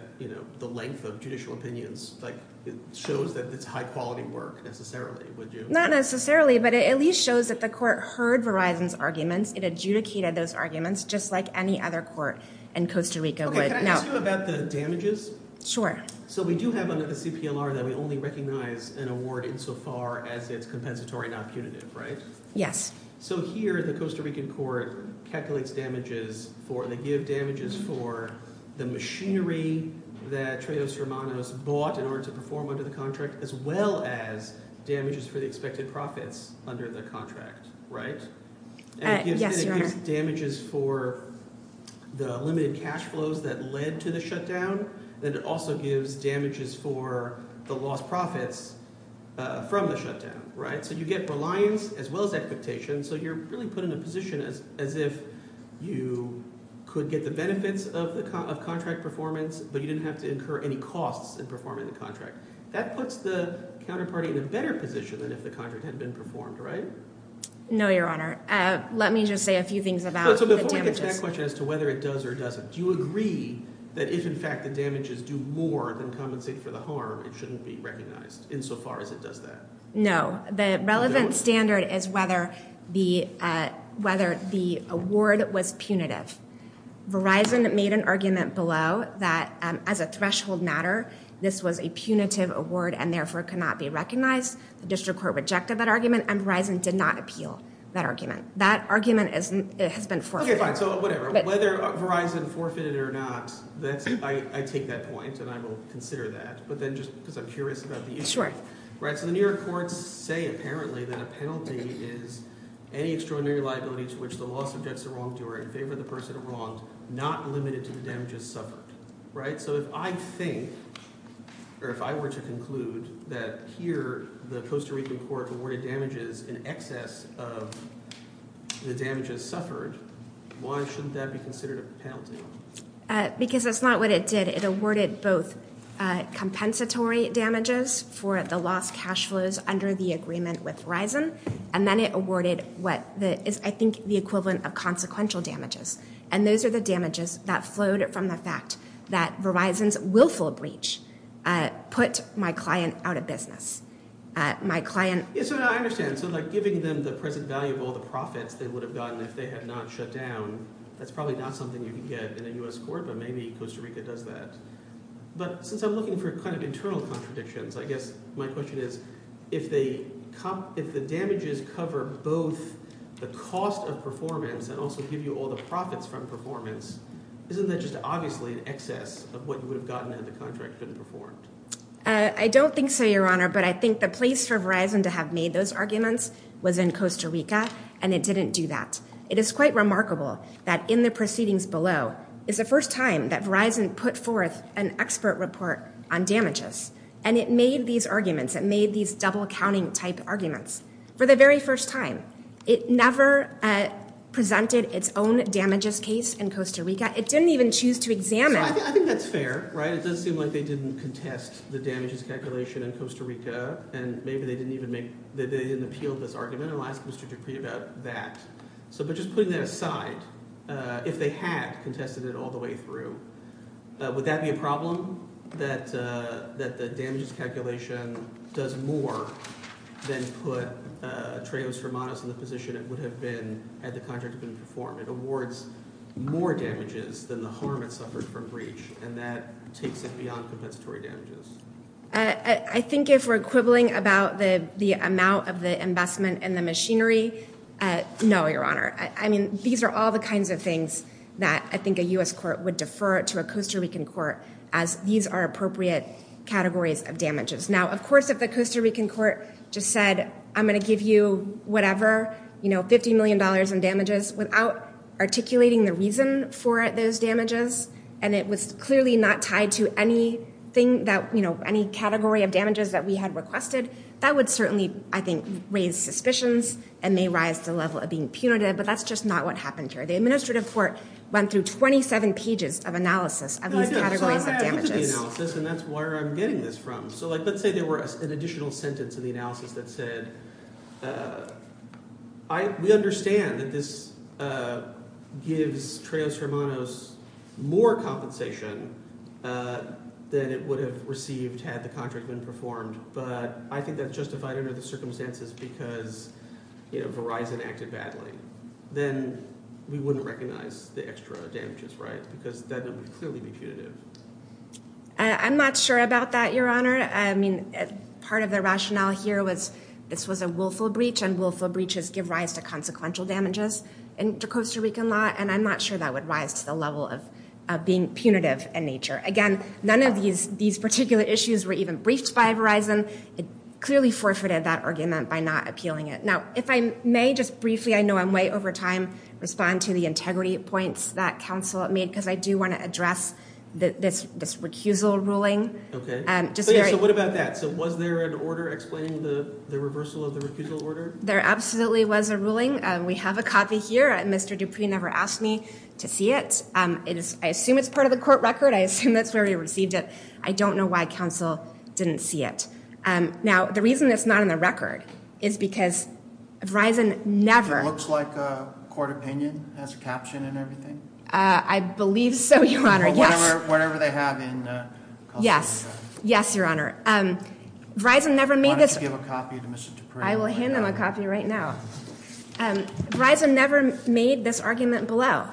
the length of judicial opinions like it shows that it's high quality work necessarily, would you? Not necessarily, but it at least shows that the court heard Verizon's arguments. It adjudicated those arguments just like any other court in Costa Rica would. Can I ask you about the damages? Sure. So we do have under the CPLR that we only recognize an award insofar as it's compensatory, not punitive, right? Yes. So here the Costa Rican court calculates damages for – they give damages for the machinery that Treos Hermanos bought in order to perform under the contract as well as damages for the expected profits under the contract, right? Yes, Your Honor. And it gives damages for the limited cash flows that led to the shutdown. Then it also gives damages for the lost profits from the shutdown, right? So you get reliance as well as expectation, so you're really put in a position as if you could get the benefits of contract performance, but you didn't have to incur any costs in performing the contract. That puts the counterparty in a better position than if the contract had been performed, right? No, Your Honor. Let me just say a few things about the damages. So before we get to that question as to whether it does or doesn't, do you agree that if in fact the damages do more than compensate for the harm, it shouldn't be recognized insofar as it does that? No. The relevant standard is whether the award was punitive. Verizon made an argument below that as a threshold matter, this was a punitive award and therefore cannot be recognized. The district court rejected that argument and Verizon did not appeal that argument. That argument has been forfeited. Okay, fine. So whatever. Whether Verizon forfeited it or not, I take that point and I will consider that. But then just because I'm curious about the issue. Sure. So the New York courts say apparently that a penalty is any extraordinary liability to which the law subjects the wrongdoer in favor of the person wronged, not limited to the damages suffered. So if I think or if I were to conclude that here the Costa Rican court awarded damages in excess of the damages suffered, why shouldn't that be considered a penalty? Because that's not what it did. It awarded both compensatory damages for the lost cash flows under the agreement with Verizon and then it awarded what is I think the equivalent of consequential damages. And those are the damages that flowed from the fact that Verizon's willful breach put my client out of business. So I understand. So like giving them the present value of all the profits they would have gotten if they had not shut down, that's probably not something you can get in a U.S. court, but maybe Costa Rica does that. But since I'm looking for kind of internal contradictions, I guess my question is if the damages cover both the cost of performance and also give you all the profits from performance, isn't that just obviously an excess of what you would have gotten had the contract been performed? I don't think so, Your Honor, but I think the place for Verizon to have made those arguments was in Costa Rica and it didn't do that. It is quite remarkable that in the proceedings below is the first time that Verizon put forth an expert report on damages and it made these arguments. It made these double counting type arguments for the very first time. It never presented its own damages case in Costa Rica. It didn't even choose to examine. I think that's fair. It does seem like they didn't contest the damages calculation in Costa Rica and maybe they didn't appeal this argument. I'll ask Mr. Dupree about that. But just putting that aside, if they had contested it all the way through, would that be a problem that the damages calculation does more than put Trejos Hermanos in the position it would have been had the contract been performed? It awards more damages than the harm it suffered from breach and that takes it beyond compensatory damages. I think if we're quibbling about the amount of the investment and the machinery, no, Your Honor. I mean, these are all the kinds of things that I think a U.S. court would defer to a Costa Rican court as these are appropriate categories of damages. Now, of course, if the Costa Rican court just said, I'm going to give you whatever, $50 million in damages, without articulating the reason for those damages, and it was clearly not tied to any category of damages that we had requested, that would certainly, I think, raise suspicions and may rise to the level of being punitive. But that's just not what happened here. The administrative court went through 27 pages of analysis of these categories of damages. And that's where I'm getting this from. So let's say there were an additional sentence in the analysis that said, we understand that this gives Trejos Hermanos more compensation than it would have received had the contract been performed. But I think that's justified under the circumstances because Verizon acted badly. Then we wouldn't recognize the extra damages, right? Because then it would clearly be punitive. I'm not sure about that, Your Honor. I mean, part of the rationale here was this was a willful breach. And willful breaches give rise to consequential damages in Costa Rican law. And I'm not sure that would rise to the level of being punitive in nature. Again, none of these particular issues were even briefed by Verizon. It clearly forfeited that argument by not appealing it. Now, if I may just briefly, I know I'm way over time, respond to the integrity points that counsel made because I do want to address this recusal ruling. So what about that? So was there an order explaining the reversal of the recusal order? There absolutely was a ruling. We have a copy here. And Mr. Dupree never asked me to see it. I assume it's part of the court record. I assume that's where he received it. I don't know why counsel didn't see it. Now, the reason it's not in the record is because Verizon never. It looks like a court opinion. It has a caption and everything. I believe so, Your Honor. Yes. Whatever they have in Costa Rica. Yes. Yes, Your Honor. Verizon never made this. Why don't you give a copy to Mr. Dupree? I will hand him a copy right now. Verizon never made this argument below.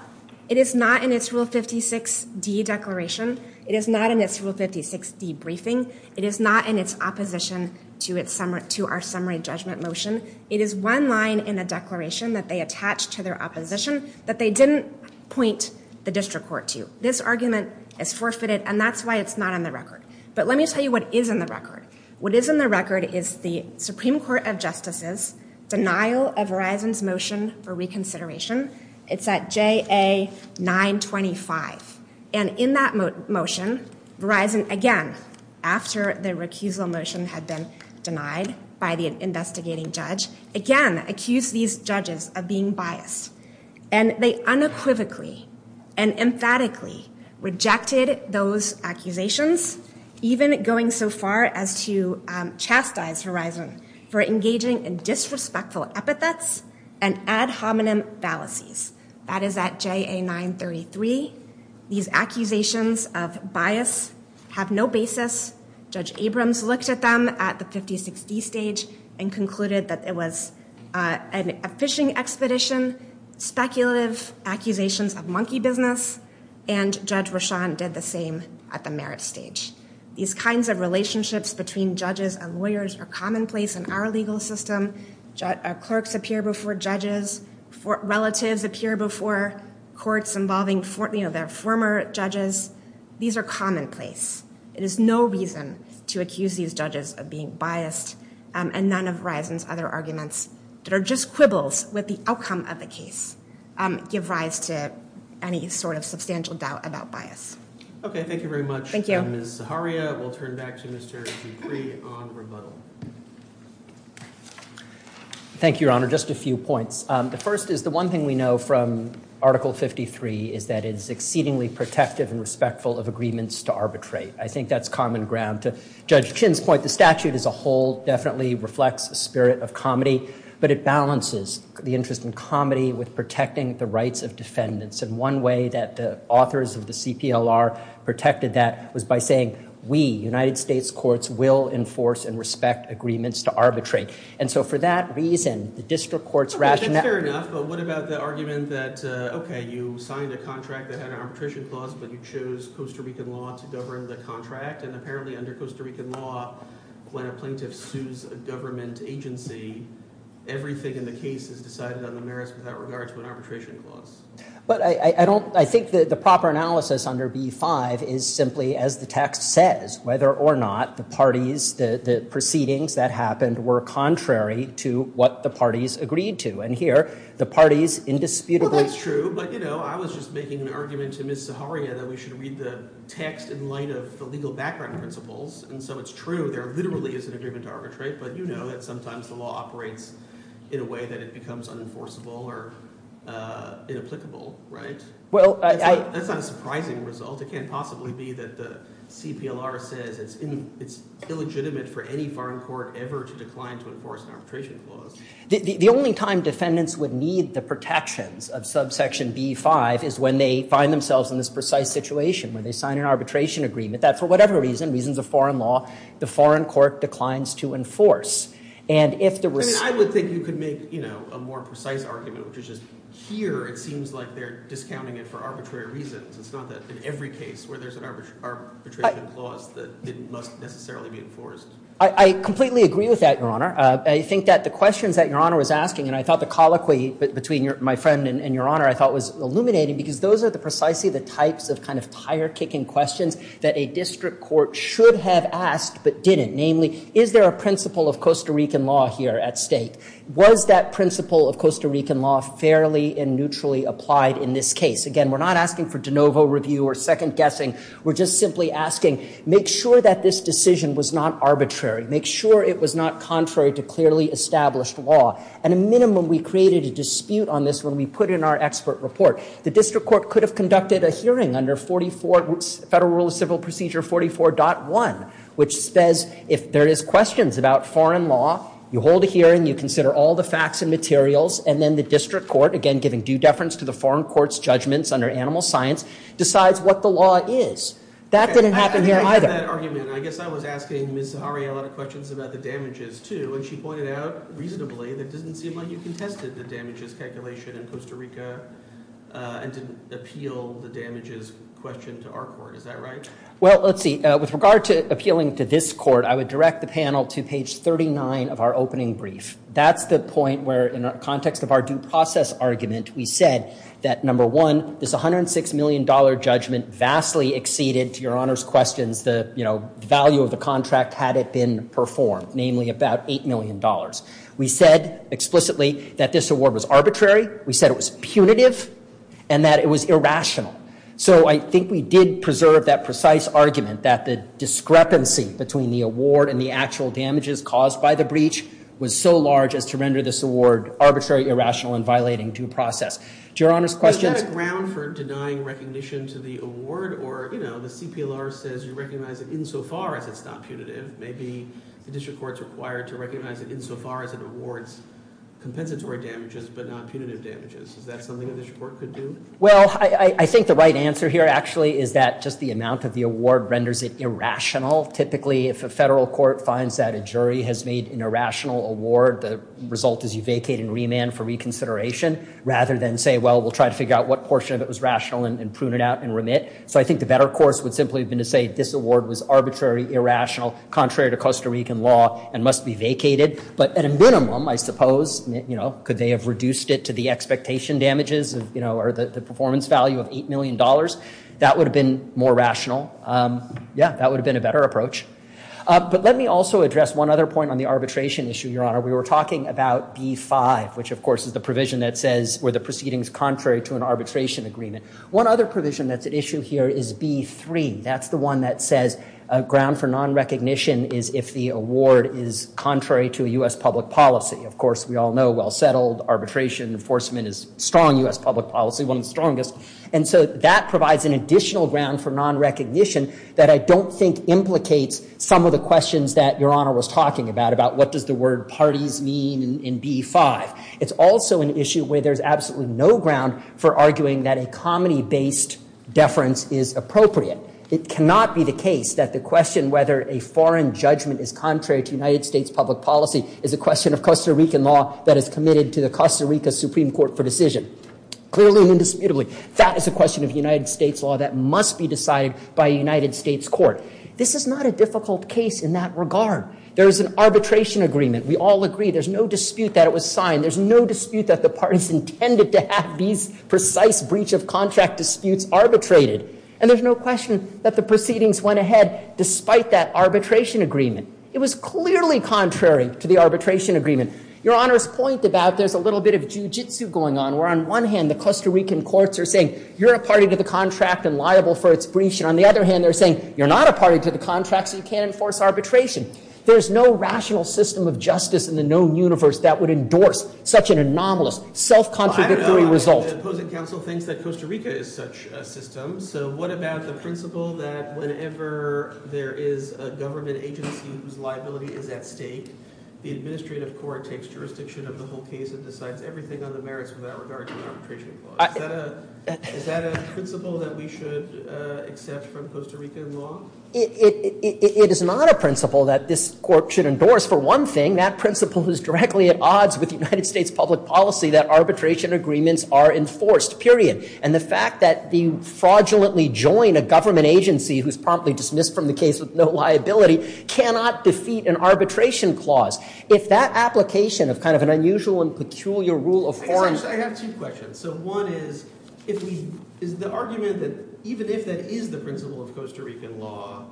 It is not in its Rule 56D declaration. It is not in its Rule 56D briefing. It is not in its opposition to our summary judgment motion. It is one line in a declaration that they attached to their opposition that they didn't point the district court to. This argument is forfeited, and that's why it's not in the record. But let me tell you what is in the record. What is in the record is the Supreme Court of Justices' denial of Verizon's motion for reconsideration. It's at JA-925. And in that motion, Verizon, again, after the recusal motion had been denied by the investigating judge, again accused these judges of being biased. And they unequivocally and emphatically rejected those accusations, even going so far as to chastise Verizon for engaging in disrespectful epithets and ad hominem fallacies. That is at JA-933. These accusations of bias have no basis. Judge Abrams looked at them at the 56D stage and concluded that it was a phishing expedition, speculative accusations of monkey business, and Judge Rashan did the same at the merit stage. These kinds of relationships between judges and lawyers are commonplace in our legal system. Clerks appear before judges. Relatives appear before courts involving their former judges. These are commonplace. It is no reason to accuse these judges of being biased, and none of Verizon's other arguments that are just quibbles with the outcome of the case give rise to any sort of substantial doubt about bias. Okay, thank you very much. Thank you. Ms. Zaharia, we'll turn back to Mr. Dupree on rebuttal. Thank you, Your Honor. Just a few points. The first is the one thing we know from Article 53 is that it is exceedingly protective and respectful of agreements to arbitrate. I think that's common ground. To Judge Chin's point, the statute as a whole definitely reflects a spirit of comedy, but it balances the interest in comedy with protecting the rights of defendants. And one way that the authors of the CPLR protected that was by saying, we, United States courts, will enforce and respect agreements to arbitrate. And so for that reason, the district court's rationale – Okay, that's fair enough, but what about the argument that, okay, you signed a contract that had an arbitration clause but you chose Costa Rican law to govern the contract and apparently under Costa Rican law, when a plaintiff sues a government agency, everything in the case is decided on the merits without regard to an arbitration clause? But I think the proper analysis under B-5 is simply, as the text says, whether or not the parties, the proceedings that happened were contrary to what the parties agreed to. And here, the parties indisputably – Well, that's true, but, you know, I was just making an argument to Ms. Zaharia that we should read the text in light of the legal background principles. And so it's true there literally is an agreement to arbitrate, but you know that sometimes the law operates in a way that it becomes unenforceable or inapplicable, right? That's not a surprising result. It can't possibly be that the CPLR says it's illegitimate for any foreign court ever to decline to enforce an arbitration clause. The only time defendants would need the protections of subsection B-5 is when they find themselves in this precise situation where they sign an arbitration agreement that for whatever reason, reasons of foreign law, the foreign court declines to enforce. And if the – I mean, I would think you could make, you know, a more precise argument, which is just here it seems like they're discounting it for arbitrary reasons. It's not that in every case where there's an arbitration clause that it must necessarily be enforced. I completely agree with that, Your Honor. I think that the questions that Your Honor was asking, and I thought the colloquy between my friend and Your Honor I thought was illuminating because those are precisely the types of kind of tire-kicking questions that a district court should have asked but didn't. Namely, is there a principle of Costa Rican law here at stake? Was that principle of Costa Rican law fairly and neutrally applied in this case? Again, we're not asking for de novo review or second guessing. We're just simply asking, make sure that this decision was not arbitrary. Make sure it was not contrary to clearly established law. At a minimum, we created a dispute on this when we put in our expert report. The district court could have conducted a hearing under 44 – Federal Rule of Civil Procedure 44.1, which says if there is questions about foreign law, you hold a hearing, you consider all the facts and materials, and then the district court, again, giving due deference to the foreign court's judgments under animal science, decides what the law is. That didn't happen here either. I agree with that argument. I guess I was asking Ms. Zahari a lot of questions about the damages too, and she pointed out reasonably that it doesn't seem like you contested the damages calculation in Costa Rica and didn't appeal the damages question to our court. Is that right? Well, let's see. With regard to appealing to this court, I would direct the panel to page 39 of our opening brief. That's the point where, in the context of our due process argument, we said that, number one, this $106 million judgment vastly exceeded, to Your Honor's questions, the value of the contract had it been performed, namely about $8 million. We said explicitly that this award was arbitrary. We said it was punitive and that it was irrational. So I think we did preserve that precise argument that the discrepancy between the award and the actual damages caused by the breach was so large as to render this award arbitrary, irrational, and violating due process. To Your Honor's questions— Is that a ground for denying recognition to the award? Or, you know, the CPLR says you recognize it insofar as it's not punitive. Maybe the district court's required to recognize it insofar as it awards compensatory damages but not punitive damages. Is that something the district court could do? Well, I think the right answer here, actually, is that just the amount of the award renders it irrational. Typically, if a federal court finds that a jury has made an irrational award, the result is you vacate and remand for reconsideration rather than say, well, we'll try to figure out what portion of it was rational and prune it out and remit. So I think the better course would simply have been to say this award was arbitrary, irrational, contrary to Costa Rican law and must be vacated. But at a minimum, I suppose, you know, could they have reduced it to the expectation damages, you know, or the performance value of $8 million? That would have been more rational. Yeah, that would have been a better approach. But let me also address one other point on the arbitration issue, Your Honor. We were talking about B-5, which, of course, is the provision that says were the proceedings contrary to an arbitration agreement. One other provision that's at issue here is B-3. That's the one that says a ground for nonrecognition is if the award is contrary to a U.S. public policy. Of course, we all know well-settled arbitration enforcement is strong U.S. public policy, one of the strongest. And so that provides an additional ground for nonrecognition that I don't think implicates some of the questions that Your Honor was talking about, about what does the word parties mean in B-5. It's also an issue where there's absolutely no ground for arguing that a comedy-based deference is appropriate. It cannot be the case that the question whether a foreign judgment is contrary to United States public policy is a question of Costa Rican law that is committed to the Costa Rica Supreme Court for decision. Clearly and indisputably, that is a question of United States law that must be decided by a United States court. This is not a difficult case in that regard. There is an arbitration agreement. We all agree there's no dispute that it was signed. There's no dispute that the parties intended to have these precise breach of contract disputes arbitrated. And there's no question that the proceedings went ahead despite that arbitration agreement. It was clearly contrary to the arbitration agreement. Your Honor's point about there's a little bit of jujitsu going on, where on one hand, the Costa Rican courts are saying you're a party to the contract and liable for its breach. And on the other hand, they're saying you're not a party to the contract, so you can't enforce arbitration. There's no rational system of justice in the known universe that would endorse such an anomalous, self-contradictory result. The opposing counsel thinks that Costa Rica is such a system, so what about the principle that whenever there is a government agency whose liability is at stake, the administrative court takes jurisdiction of the whole case and decides everything on the merits without regard to the arbitration clause. Is that a principle that we should accept from Costa Rican law? It is not a principle that this court should endorse. For one thing, that principle is directly at odds with United States public policy that arbitration agreements are enforced, period. And the fact that you fraudulently join a government agency who's promptly dismissed from the case with no liability cannot defeat an arbitration clause. If that application of kind of an unusual and peculiar rule of form— I have two questions. So one is, is the argument that even if that is the principle of Costa Rican law,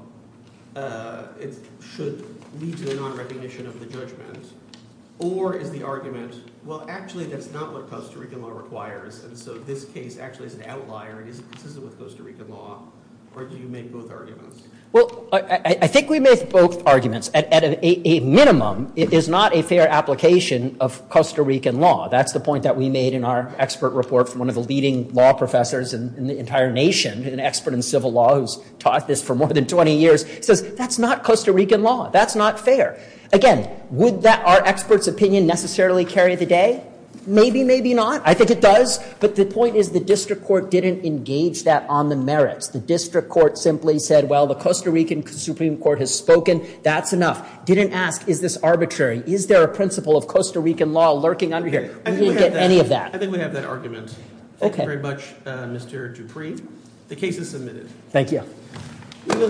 it should lead to the non-recognition of the judgment, or is the argument, well, actually, that's not what Costa Rican law requires, and so this case actually is an outlier, it isn't consistent with Costa Rican law, or do you make both arguments? Well, I think we make both arguments. At a minimum, it is not a fair application of Costa Rican law. That's the point that we made in our expert report from one of the leading law professors in the entire nation, an expert in civil law who's taught this for more than 20 years. He says, that's not Costa Rican law. That's not fair. Again, would our expert's opinion necessarily carry the day? Maybe, maybe not. I think it does. But the point is the district court didn't engage that on the merits. The district court simply said, well, the Costa Rican Supreme Court has spoken. That's enough. Didn't ask, is this arbitrary? Is there a principle of Costa Rican law lurking under here? We didn't get any of that. I think we have that argument. Thank you very much, Mr. Dupree. The case is submitted. Thank you.